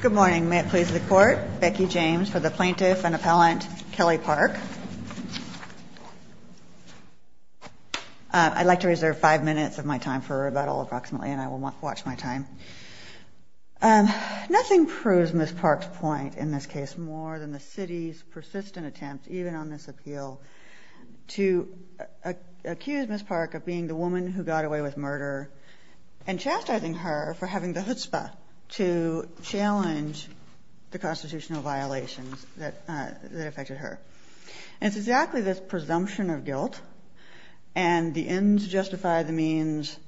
Good morning. May it please the court, Becky James for the plaintiff and appellant, Kelly Park. I'd like to reserve five minutes of my time for rebuttal, approximately, and I will watch my time. Nothing proves Ms. Park's point in this case more than the City's persistent attempt, even on this appeal, to accuse Ms. Park of being the woman who got away with murder and chastising her for having the chutzpah to challenge the constitutional violations that affected her. And it's exactly this presumption of guilt and the ends justify the means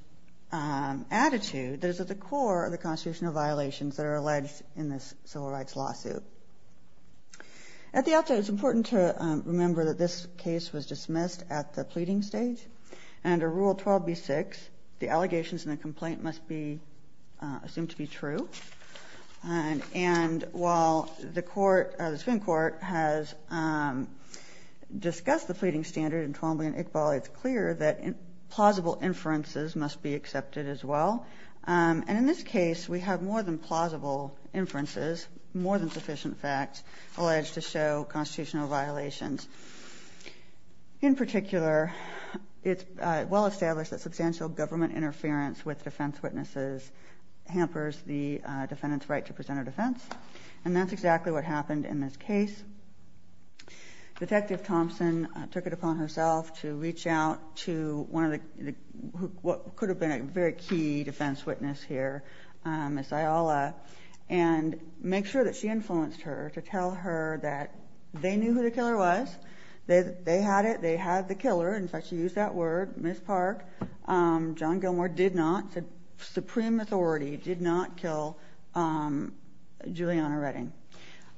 attitude that is at the core of the constitutional violations that are alleged in this civil rights lawsuit. At the outset, it's important to remember that this case was dismissed at the pleading stage. Under Rule 12b-6, the allegations in the complaint must be assumed to be true. And while the court, the Supreme Court, has discussed the pleading standard in Twombly and Iqbal, it's clear that plausible inferences must be accepted as well. And in this case, we have more than plausible inferences, more than sufficient facts, alleged to show constitutional violations. In particular, it's well established that substantial government interference with defense witnesses hampers the defendant's right to present a defense. And that's exactly what happened in this case. Detective Thompson took it upon herself to reach out to one of the, what could have been a very key defense witness here, Ms. Ayala, and make sure that she influenced her to tell her that they knew who the killer was, they had it, they had the killer, in fact she used that word, Ms. Park. John Gilmore did not, Supreme Authority did not kill Julianna Redding.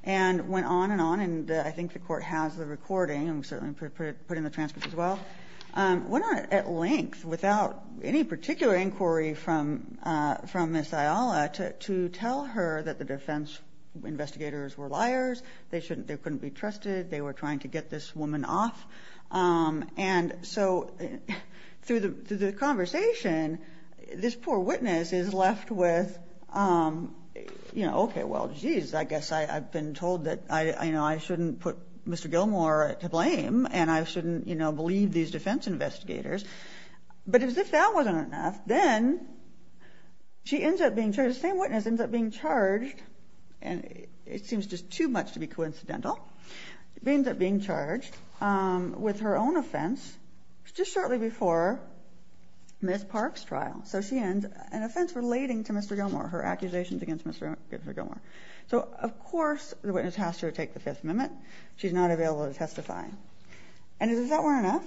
And went on and on, and I think the court has the recording, and certainly put in the transcript as well, went on at length, without any particular inquiry from Ms. Ayala, to tell her that the defense investigators were liars, they couldn't be trusted, they were trying to get this woman off. And so through the conversation, this poor witness is left with, okay, well, geez, I guess I've been told that I shouldn't put Mr. Gilmore to blame, and I shouldn't believe these defense investigators, but as if that wasn't enough, then she ends up being charged, the same witness ends up being charged, and it seems just too much to be coincidental, ends up being charged, with her own offense, just shortly before Ms. Park's trial. So she ends, an offense relating to Mr. Gilmore, her accusations against Mr. Gilmore. So, of course, the witness has to take the Fifth Amendment, she's not available to testify. And if that weren't enough,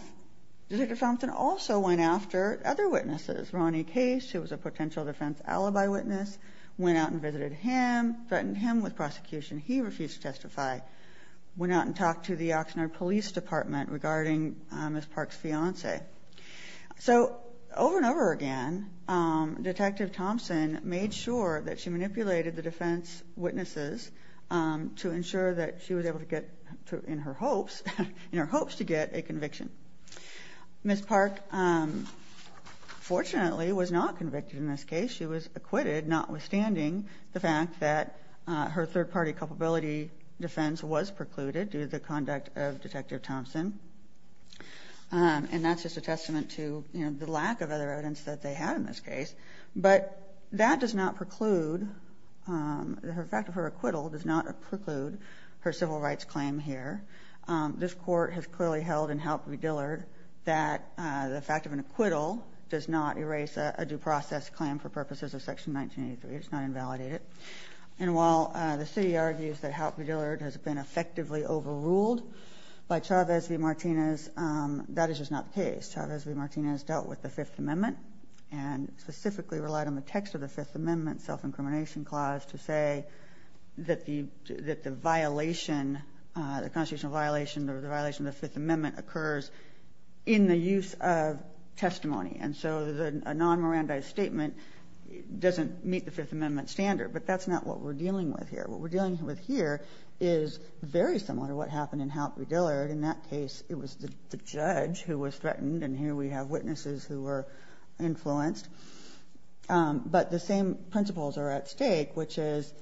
Detective Thompson also went after other witnesses, Ronnie Case, who was a potential defense alibi witness, went out and visited him, threatened him with prosecution, he refused to testify, went out and talked to the Oxnard Police Department regarding Ms. Park's fiance. So, over and over again, Detective Thompson made sure that she manipulated the defense witnesses to ensure that she was able to get, in her hopes, in her hopes to get a conviction. Ms. Park, fortunately, was not convicted in this case. She was acquitted, notwithstanding the fact that her third-party culpability defense was precluded due to the conduct of Detective Thompson. And that's just a testament to the lack of other evidence that they had in this case. But that does not preclude, the fact of her acquittal does not preclude her civil rights claim here. This Court has clearly held in Halp v. Dillard that the fact of an acquittal does not erase a due process claim for purposes of Section 1983, it's not invalidated. And while the city argues that Halp v. Dillard has been effectively overruled by Chavez v. Martinez, that is just not the case. Chavez v. Martinez dealt with the Fifth Amendment and specifically relied on the text of the Fifth Amendment self-incrimination clause to say that the violation, the constitutional violation, the violation of the Fifth Amendment occurs in the use of testimony. And so a non-Mirandized statement doesn't meet the Fifth Amendment standard. But that's not what we're dealing with here. What we're dealing with here is very similar to what happened in Halp v. Dillard. In that case, it was the judge who was threatened, and here we have witnesses who were influenced. But the same principles are at stake, which is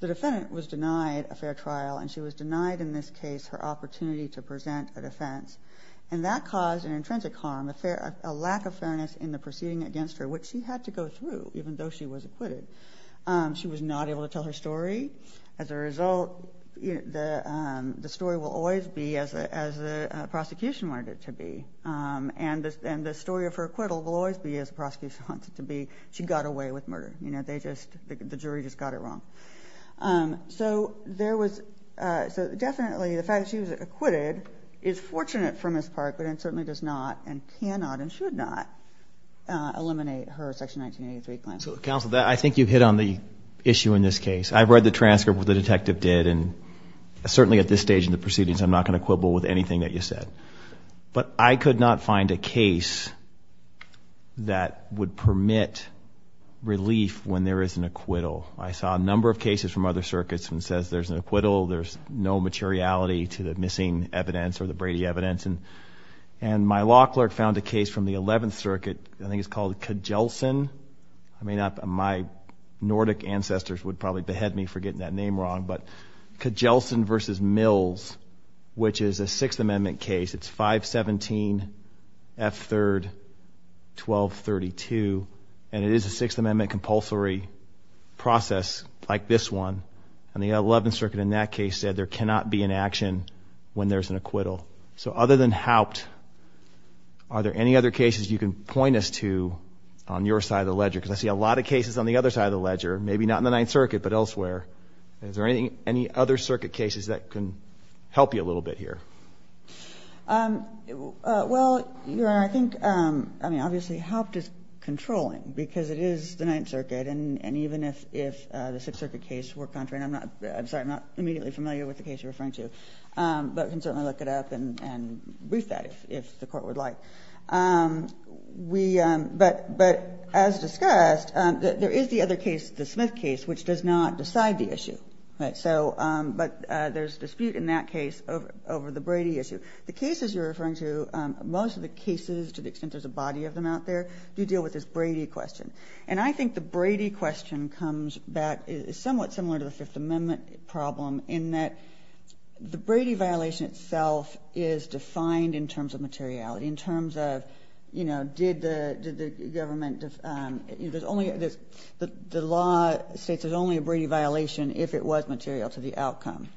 the defendant was denied a fair trial and she was denied in this case her opportunity to present a defense. And that caused an intrinsic harm, a lack of fairness in the proceeding against her, which she had to go through even though she was acquitted. She was not able to tell her story. As a result, the story will always be as the prosecution wanted it to be. And the story of her acquittal will always be as the prosecution wants it to be. She got away with murder. The jury just got it wrong. So definitely the fact that she was acquitted is fortunate for Ms. Park, but it certainly does not and cannot and should not eliminate her Section 1983 claim. So, Counsel, I think you hit on the issue in this case. I've read the transcript of what the detective did, and certainly at this stage in the proceedings, I'm not going to quibble with anything that you said. But I could not find a case that would permit relief when there is an acquittal. I saw a number of cases from other circuits when it says there's an acquittal, there's no materiality to the missing evidence or the Brady evidence. And my law clerk found a case from the 11th Circuit, I think it's called Kjelsen. My Nordic ancestors would probably behead me for getting that name wrong. But Kjelsen v. Mills, which is a Sixth Amendment case. It's 517F3-1232, and it is a Sixth Amendment compulsory process like this one. And the 11th Circuit in that case said there cannot be an action when there's an acquittal. So other than Haupt, are there any other cases you can point us to on your side of the ledger? Because I see a lot of cases on the other side of the ledger. Maybe not in the Ninth Circuit, but elsewhere. Is there any other circuit cases that can help you a little bit here? Well, Your Honor, I think, I mean, obviously, Haupt is controlling, because it is the Ninth Circuit, and even if the Sixth Circuit case were contrary, and I'm not, I'm sorry, I'm not immediately familiar with the case you're referring to. But we can certainly look it up and brief that if the Court would like. But as discussed, there is the other case, the Smith case, which does not decide the issue. But there's dispute in that case over the Brady issue. The cases you're referring to, most of the cases, to the extent there's a body of them out there, do deal with this Brady question. And I think the Brady question comes back, is somewhat similar to the Fifth Amendment problem, in that the Brady violation itself is defined in terms of materiality, in terms of, you know, did the government, there's only, the law states there's only a Brady violation if it was material to the outcome.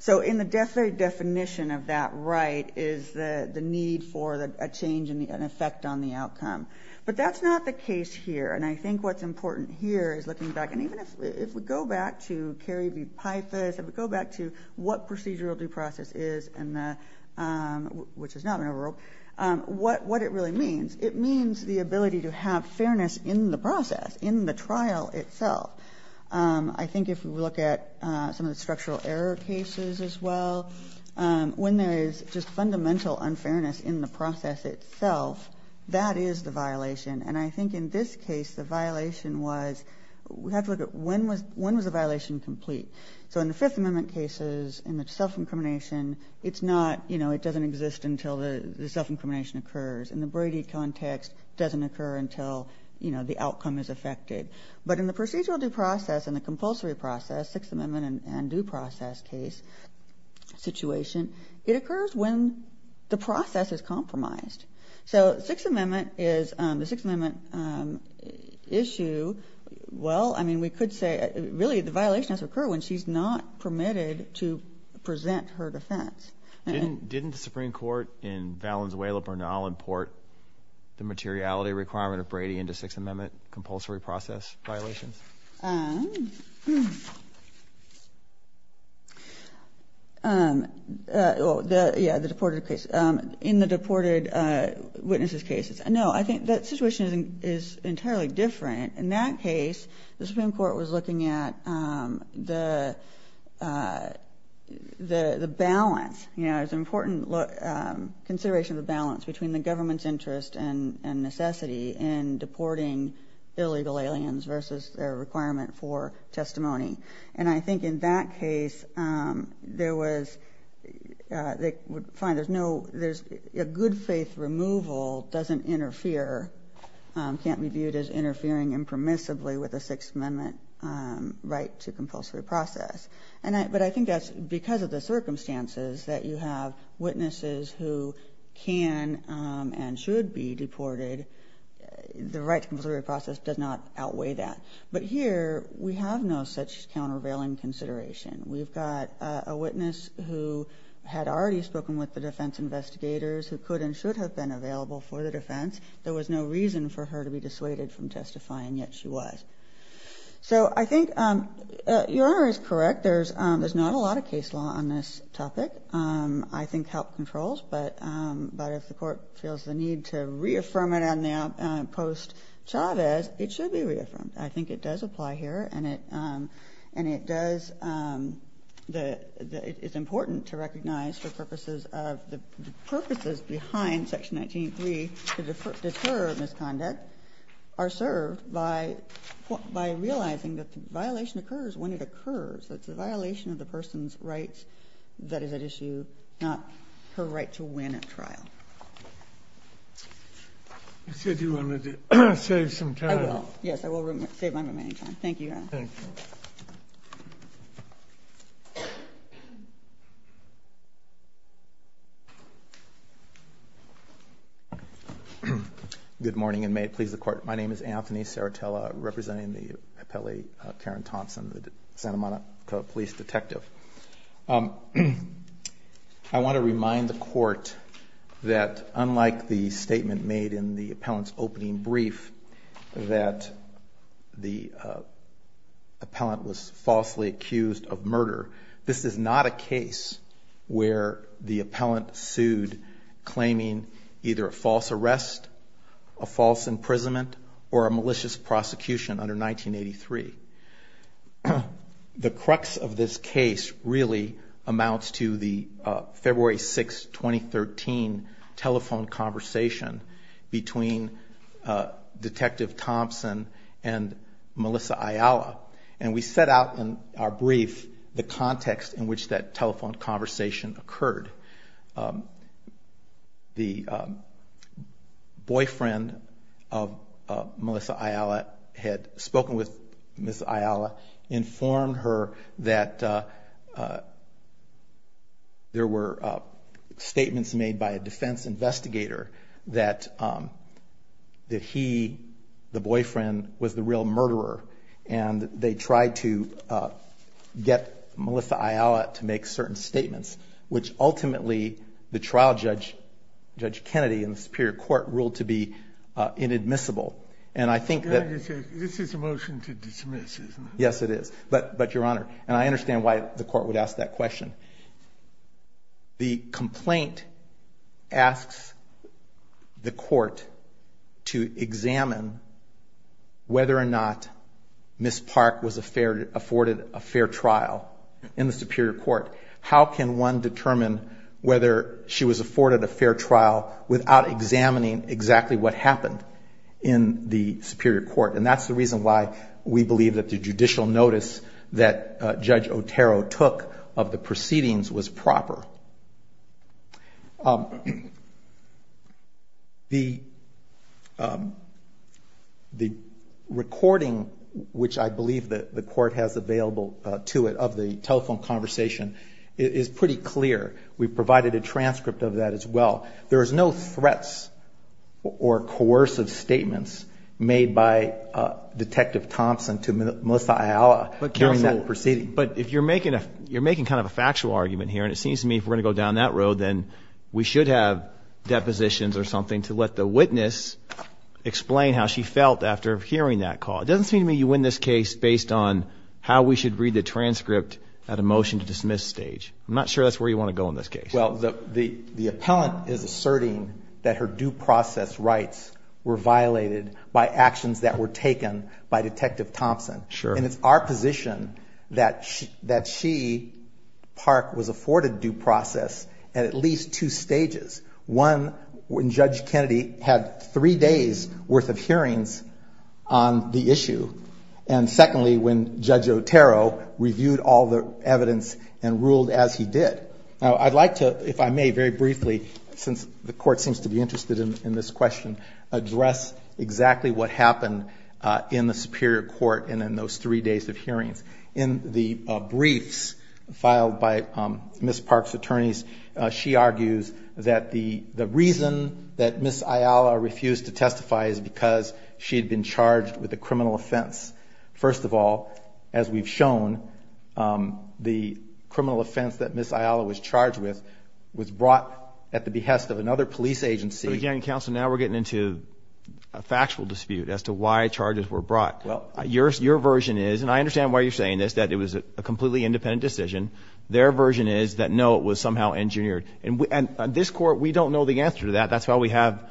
So in the definite definition of that right is the need for a change and an effect on the outcome. But that's not the case here. And I think what's important here is looking back, and even if we go back to Carey v. Pythus, if we go back to what procedural due process is, which is not an overrope, what it really means, it means the ability to have fairness in the process, in the trial itself. I think if we look at some of the structural error cases as well, when there is just fundamental unfairness in the process itself, that is the violation. And I think in this case, the violation was, we have to look at when was the violation complete. So in the Fifth Amendment cases, in the self-incrimination, it's not, you know, it doesn't exist until the self-incrimination occurs. In the Brady context, it doesn't occur until, you know, the outcome is affected. But in the procedural due process and the compulsory process, Sixth Amendment and due process case situation, it occurs when the process is compromised. So Sixth Amendment is, the Sixth Amendment issue, well, I mean, we could say really the violation has to occur when she's not permitted to present her defense. Didn't the Supreme Court in Valenzuela-Bernal import the materiality requirement of Brady into Sixth Amendment compulsory process violations? Well, yeah, the deported case. In the deported witnesses cases. No, I think that situation is entirely different. In that case, the Supreme Court was looking at the balance. You know, it was an important consideration of the balance between the government's interest and necessity in deporting illegal aliens versus their requirement for testimony. And I think in that case, there was, they would find there's no, there's a good faith removal doesn't interfere, can't be viewed as interfering impermissibly with a Sixth Amendment right to compulsory process. But I think that's because of the circumstances that you have witnesses who can and should be deported. The right to compulsory process does not outweigh that. But here we have no such countervailing consideration. We've got a witness who had already spoken with the defense investigators who could and should have been available for the defense. There was no reason for her to be dissuaded from testifying, yet she was. So I think Your Honor is correct. There's not a lot of case law on this topic. I think help controls. But if the Court feels the need to reaffirm it on the post-Chavez, it should be reaffirmed. I think it does apply here. And it does, it's important to recognize for purposes of, the purposes behind Section 193 to deter misconduct are served by realizing that the violation occurs when it occurs. It's the violation of the person's rights that is at issue, not her right to win a trial. I said you wanted to save some time. I will. Yes, I will save my remaining time. Thank you, Your Honor. Thank you. Thank you. Good morning and may it please the Court. My name is Anthony Saratella, representing the appellee Karen Thompson, the Santa Monica police detective. I want to remind the Court that unlike the statement made in the appellant's opening brief that the appellant was falsely accused of murder, this is not a case where the appellant sued claiming either a false arrest, a false imprisonment, or a malicious prosecution under 1983. The crux of this case really amounts to the February 6, 2013, telephone conversation between Detective Thompson and Melissa Ayala. And we set out in our brief the context in which that telephone conversation occurred. The boyfriend of Melissa Ayala had spoken with Ms. Ayala, informed her that there were statements made by a defendant, a defense investigator, that he, the boyfriend, was the real murderer. And they tried to get Melissa Ayala to make certain statements, which ultimately the trial judge, Judge Kennedy, in the Superior Court ruled to be inadmissible. And I think that... This is a motion to dismiss, isn't it? Yes, it is. But, Your Honor, and I understand why the Court would ask that question. The complaint asks the Court to examine whether or not Ms. Park was afforded a fair trial in the Superior Court. How can one determine whether she was afforded a fair trial without examining exactly what happened in the Superior Court? And that's the reason why we believe that the judicial notice that Judge Kennedy gave in the proceedings was proper. The recording, which I believe the Court has available to it, of the telephone conversation, is pretty clear. We provided a transcript of that as well. There is no threats or coercive statements made by Detective Thompson to Melissa Ayala during that proceeding. But if you're making kind of a factual argument here, and it seems to me if we're going to go down that road, then we should have depositions or something to let the witness explain how she felt after hearing that call. It doesn't seem to me you win this case based on how we should read the transcript at a motion to dismiss stage. I'm not sure that's where you want to go in this case. Well, the appellant is asserting that her due process rights were violated by actions that were taken by Detective Thompson. Sure. And it's our position that she, Park, was afforded due process at at least two stages. One, when Judge Kennedy had three days' worth of hearings on the issue. And secondly, when Judge Otero reviewed all the evidence and ruled as he did. Now, I'd like to, if I may, very briefly, since the Court seems to be interested in this question, address exactly what happened in the Superior Court and in those three days of hearings. In the briefs filed by Ms. Park's attorneys, she argues that the reason that Ms. Ayala refused to testify is because she had been charged with a criminal offense. First of all, as we've shown, the criminal offense that Ms. Ayala was charged with was brought at the behest of another police agency. So, again, Counsel, now we're getting into a factual dispute as to why charges were brought. Your version is, and I understand why you're saying this, that it was a completely independent decision. Their version is that, no, it was somehow engineered. And this Court, we don't know the answer to that. That's why we have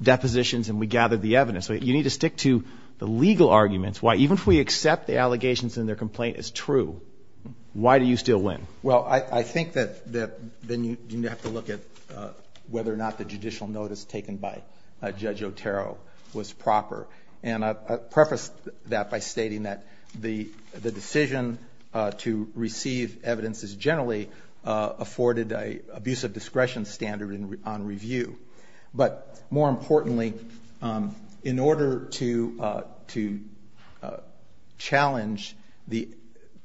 depositions and we gathered the evidence. You need to stick to the legal arguments. Why, even if we accept the allegations in their complaint as true, why do you still win? Well, I think that then you have to look at whether or not the judicial notice taken by Judge Otero was proper. And I preface that by stating that the decision to receive evidence is generally afforded an abuse of discretion standard on review. But more importantly, in order to challenge the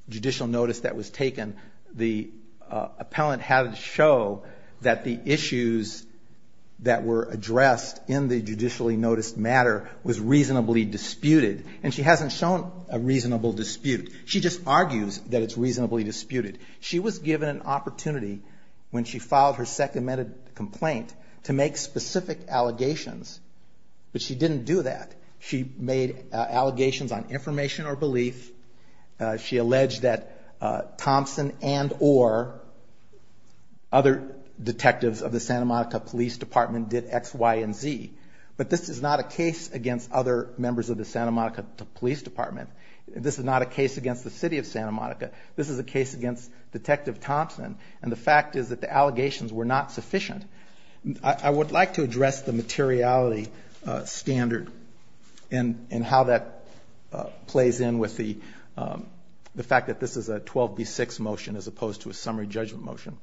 judicial notice that was taken, the appellant had to show that the issues that were addressed in the judicially noticed matter was reasonably disputed. And she hasn't shown a reasonable dispute. She just argues that it's reasonably disputed. She was given an opportunity when she filed her Second Amendment complaint to make specific allegations, but she didn't do that. She made allegations on information or belief. She alleged that Thompson and or other detectives of the Santa Monica Police Department did X, Y, and Z. But this is not a case against other members of the Santa Monica Police Department. This is not a case against the city of Santa Monica. This is a case against Detective Thompson. And the fact is that the allegations were not sufficient. I would like to address the materiality standard and how that plays in with the fact that this is a 12B6 motion as opposed to a summary judgment motion.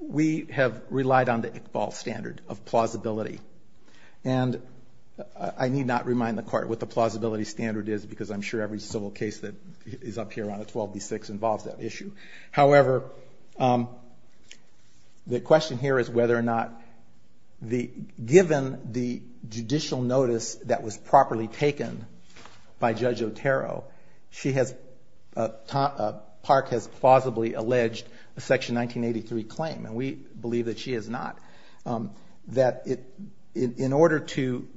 We have relied on the Iqbal standard of plausibility. And I need not remind the Court what the plausibility standard is because I'm sure every civil case that is up here on the 12B6 involves that issue. However, the question here is whether or not given the judicial notice that was properly taken by Judge Otero, Park has plausibly alleged a Section 1983 claim. And we believe that she has not. That in order to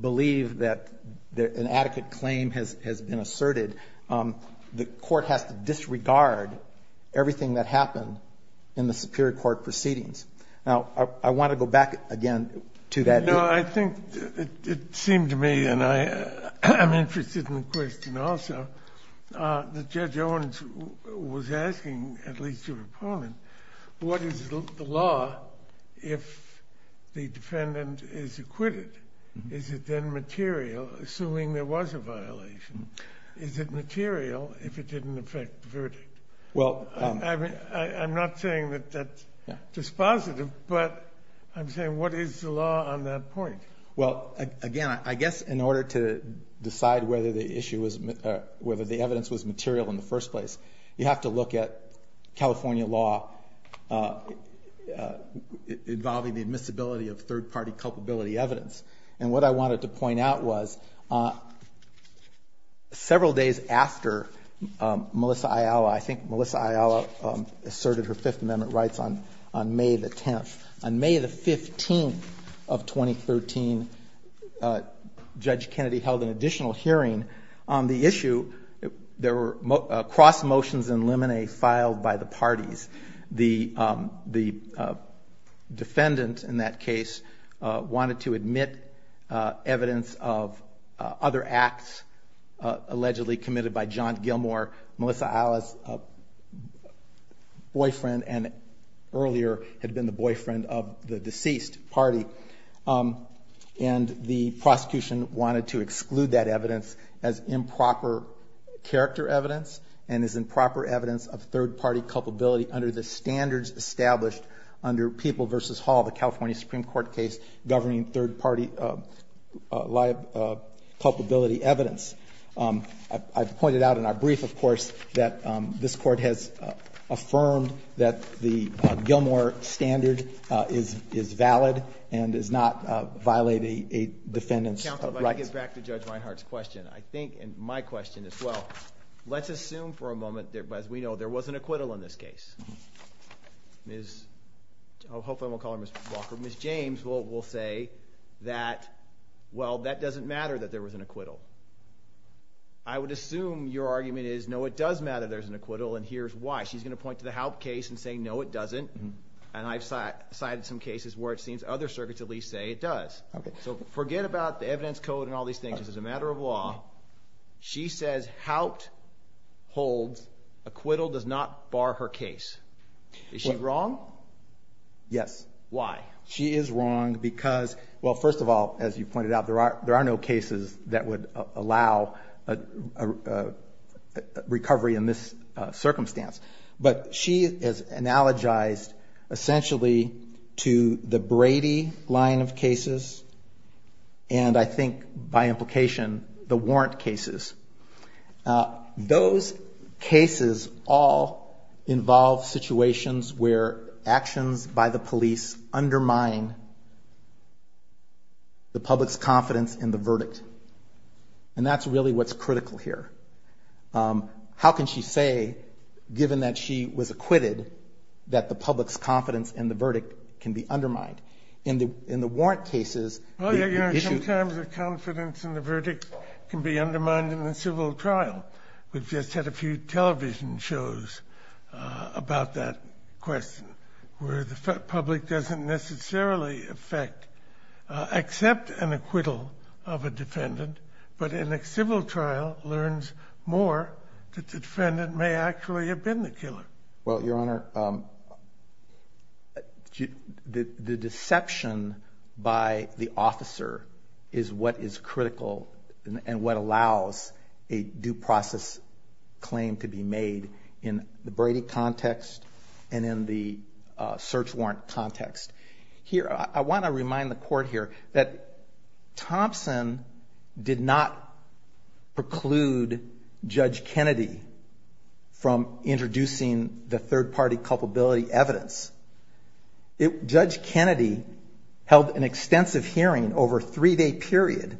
believe that an adequate claim has been asserted, the Court has to disregard everything that happened in the Superior Court proceedings. Now, I want to go back again to that. No, I think it seemed to me, and I'm interested in the question also, that Judge Owens was asking, at least your opponent, what is the law if the defendant is acquitted? Is it then material, assuming there was a violation? Is it material if it didn't affect the verdict? I'm not saying that that's dispositive, but I'm saying what is the law on that point? Well, again, I guess in order to decide whether the evidence was material in the first place, you have to look at California law involving the admissibility of third-party culpability evidence. And what I wanted to point out was several days after Melissa Ayala, I think Melissa Ayala asserted her Fifth Amendment rights on May the 10th. On May the 15th of 2013, Judge Kennedy held an additional hearing on the issue. There were cross motions and limine filed by the parties. The defendant in that case wanted to admit evidence of other acts allegedly committed by John Gilmore, Melissa Ayala's boyfriend, and earlier had been the boyfriend of the deceased party. And the prosecution wanted to exclude that evidence as improper character evidence and as improper evidence of third-party culpability under the standards established under People v. Hall, the California Supreme Court case governing third-party culpability evidence. I pointed out in our brief, of course, that this Court has affirmed that the Gilmore standard is valid and does not violate a defendant's rights. Counsel, if I could get back to Judge Reinhardt's question. I think, and my question as well, let's assume for a moment, as we know, there was an acquittal in this case. I hope I won't call her Ms. Walker. Ms. James will say that, well, that doesn't matter that there was an acquittal. I would assume your argument is, no, it does matter there's an acquittal, and here's why. She's going to point to the Haupt case and say, no, it doesn't. And I've cited some cases where it seems other circuits at least say it does. So forget about the evidence code and all these things. This is a matter of law. She says Haupt holds acquittal does not bar her case. Is she wrong? Yes. Why? She is wrong because, well, first of all, as you pointed out, there are no cases that would allow recovery in this circumstance. But she has analogized essentially to the Brady line of cases and, I think, by implication, the Warrant cases. Those cases all involve situations where actions by the police undermine the public's confidence in the verdict. And that's really what's critical here. How can she say, given that she was acquitted, that the public's confidence in the verdict can be undermined? In the Warrant cases, the issue- We've just had a few television shows about that question, where the public doesn't necessarily accept an acquittal of a defendant, but in a civil trial learns more that the defendant may actually have been the killer. Well, Your Honor, the deception by the officer is what is critical and what allows a due process claim to be made in the Brady context and in the search warrant context. Here, I want to remind the Court here that Thompson did not preclude Judge Kennedy from introducing the third-party culpability evidence. Judge Kennedy held an extensive hearing over a three-day period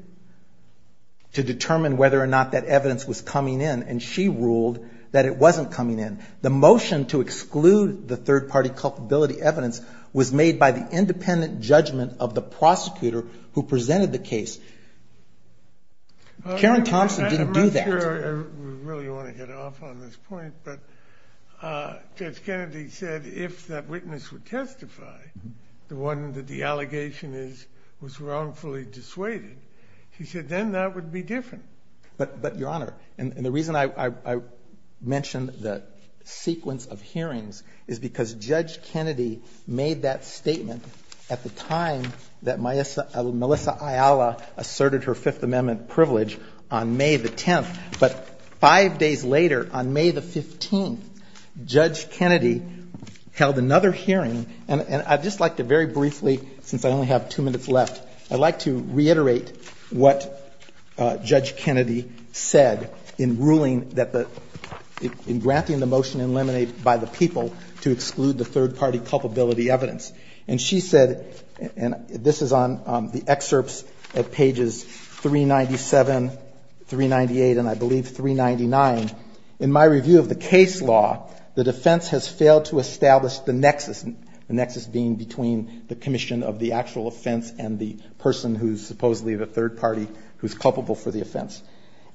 to determine whether or not that evidence was coming in, and she ruled that it wasn't coming in. The motion to exclude the third-party culpability evidence was made by the independent judgment of the prosecutor who presented the case. Karen Thompson didn't do that. I'm not sure I really want to hit off on this point, but Judge Kennedy said if that witness would testify, the one that the allegation is was wrongfully dissuaded, she said then that would be different. But, Your Honor, and the reason I mention the sequence of hearings is because Judge Kennedy made that statement at the time that Melissa Ayala asserted her Fifth Amendment privilege on May the 10th, but five days later, on May the 15th, Judge Kennedy held another hearing, and I'd just like to very briefly, since I only have two minutes left, I'd like to reiterate what Judge Kennedy said in ruling that the, in granting the motion eliminated by the people to exclude the third-party culpability evidence. And she said, and this is on the excerpts at pages 397, 398, and I believe 399, in my review of the case law, the defense has failed to establish the nexus, the nexus being between the commission of the actual offense and the person who's supposedly the third-party who's culpable for the offense.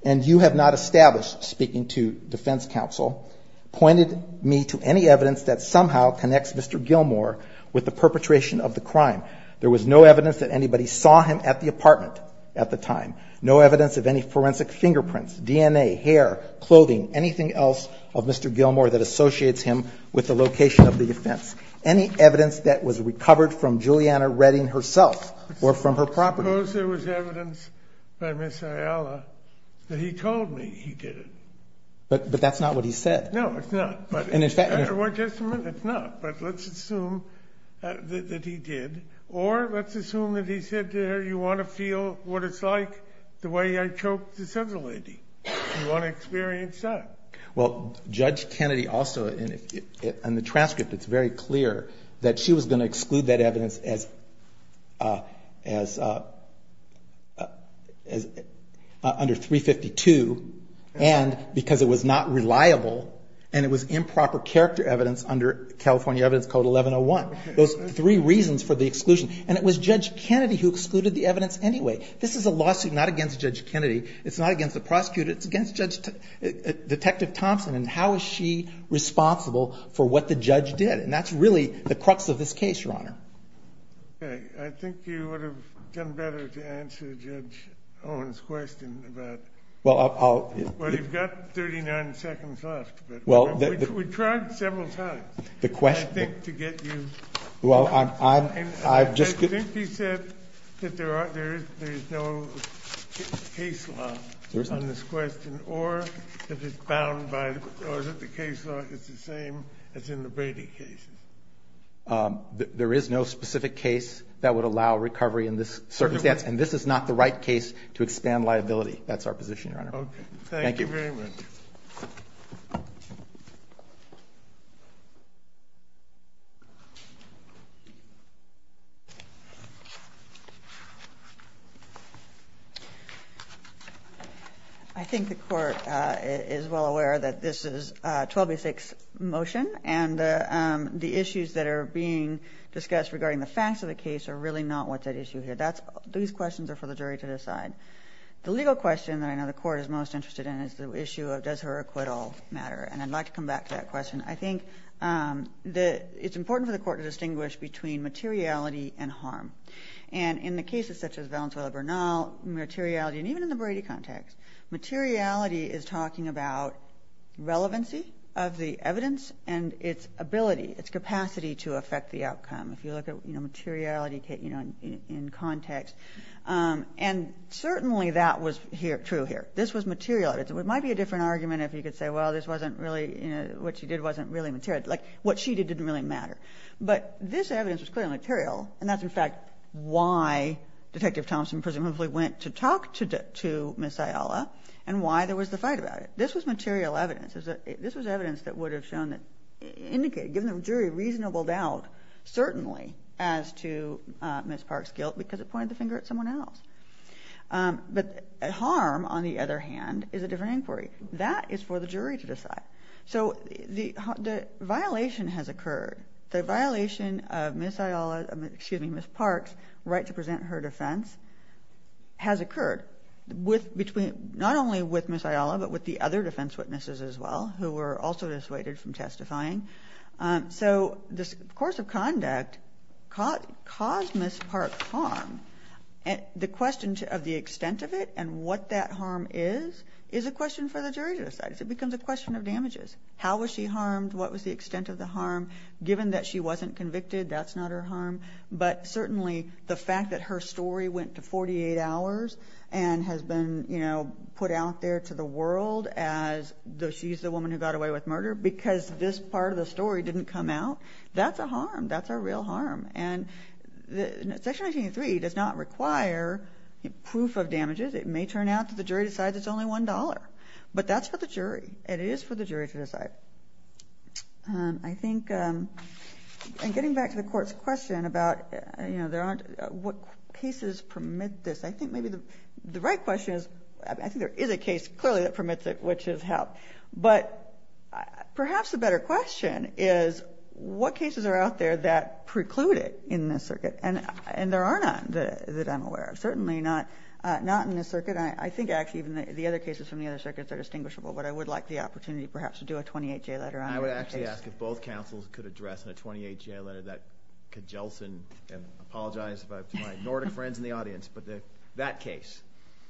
And you have not established, speaking to defense counsel, pointed me to any evidence that somehow connects Mr. Gilmour with the perpetration of the crime. There was no evidence that anybody saw him at the apartment at the time, no evidence of any forensic fingerprints, DNA, hair, clothing, anything else of Mr. Gilmour that associates him with the location of the offense. Any evidence that was recovered from Juliana Redding herself or from her property. Kennedy, I suppose there was evidence by Ms. Ayala that he told me he did it. But that's not what he said. No, it's not. And in fact, it's not. But let's assume that he did, or let's assume that he said to her, do you want to feel what it's like the way I choked this other lady? Do you want to experience that? Well, Judge Kennedy also, in the transcript, it's very clear that she was going to exclude that evidence as under 352, and because it was not reliable, and it was improper character evidence under California Evidence Code 1101. Those three reasons for the exclusion. And it was Judge Kennedy who excluded the evidence anyway. This is a lawsuit not against Judge Kennedy. It's not against the prosecutor. It's against Detective Thompson. And how is she responsible for what the judge did? And that's really the crux of this case, Your Honor. Okay. I think you would have done better to answer Judge Owen's question. Well, you've got 39 seconds left. We tried several times, I think, to get you. I think he said that there is no case law on this question, or that the case law is the same as in the Brady case. There is no specific case that would allow recovery in this circumstance, and this is not the right case to expand liability. That's our position, Your Honor. Okay. Thank you very much. Thank you. I think the Court is well aware that this is a 12-6 motion, and the issues that are being discussed regarding the facts of the case are really not what's at issue here. These questions are for the jury to decide. The legal question that I know the Court is most interested in is the issue of does her acquittal matter. And I'd like to come back to that question. I think it's important for the Court to distinguish between materiality and harm. And in the cases such as Valenzuela-Bernal, materiality, and even in the Brady context, materiality is talking about relevancy of the evidence and its ability, its capacity to affect the outcome. If you look at materiality in context. And certainly that was true here. This was material evidence. It might be a different argument if you could say, well, this wasn't really, what she did wasn't really material. Like, what she did didn't really matter. But this evidence was clearly material, and that's, in fact, why Detective Thompson presumably went to talk to Ms. Ayala and why there was the fight about it. This was material evidence. This was evidence that would have shown that indicated, given the jury reasonable doubt, certainly as to Ms. Park's guilt because it pointed the finger at someone else. But harm, on the other hand, is a different inquiry. That is for the jury to decide. So the violation has occurred. The violation of Ms. Park's right to present her defense has occurred, not only with Ms. Ayala but with the other defense witnesses as well, who were also dissuaded from testifying. So the course of conduct caused Ms. Park harm. The question of the extent of it and what that harm is is a question for the jury to decide. It becomes a question of damages. How was she harmed? What was the extent of the harm? Given that she wasn't convicted, that's not her harm. But certainly the fact that her story went to 48 hours and has been put out there to the world as she's the woman who got away with murder because this part of the story didn't come out, that's a harm. That's a real harm. And Section 1903 does not require proof of damages. It may turn out that the jury decides it's only $1. But that's for the jury, and it is for the jury to decide. I think in getting back to the Court's question about what cases permit this, I think maybe the right question is I think there is a case clearly that permits it, which is help. But perhaps a better question is what cases are out there that preclude it in this circuit? And there are none that I'm aware of, certainly not in this circuit. I think actually even the other cases from the other circuits are distinguishable, but I would like the opportunity perhaps to do a 28-J letter on that case. I would actually ask if both counsels could address in a 28-J letter that could jostle and apologize to my Nordic friends in the audience, but that case.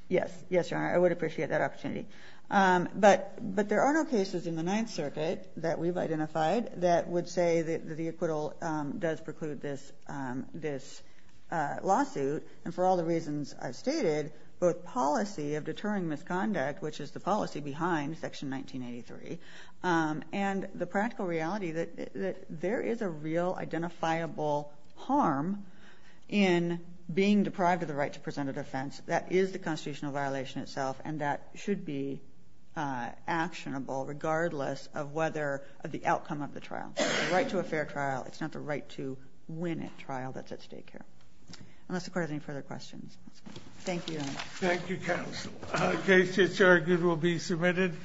Yes, Your Honor. I would appreciate that opportunity. But there are no cases in the Ninth Circuit that we've identified that would say that the acquittal does preclude this lawsuit. And for all the reasons I've stated, both policy of deterring misconduct, which is the policy behind Section 1983, and the practical reality that there is a real identifiable harm in being deprived of the right to present a defense. That is the constitutional violation itself, and that should be actionable regardless of the outcome of the trial. It's the right to a fair trial. It's not the right to win at trial that's at stake here. Unless the Court has any further questions. Thank you, Your Honor. Thank you, counsel. The case that's argued will be submitted.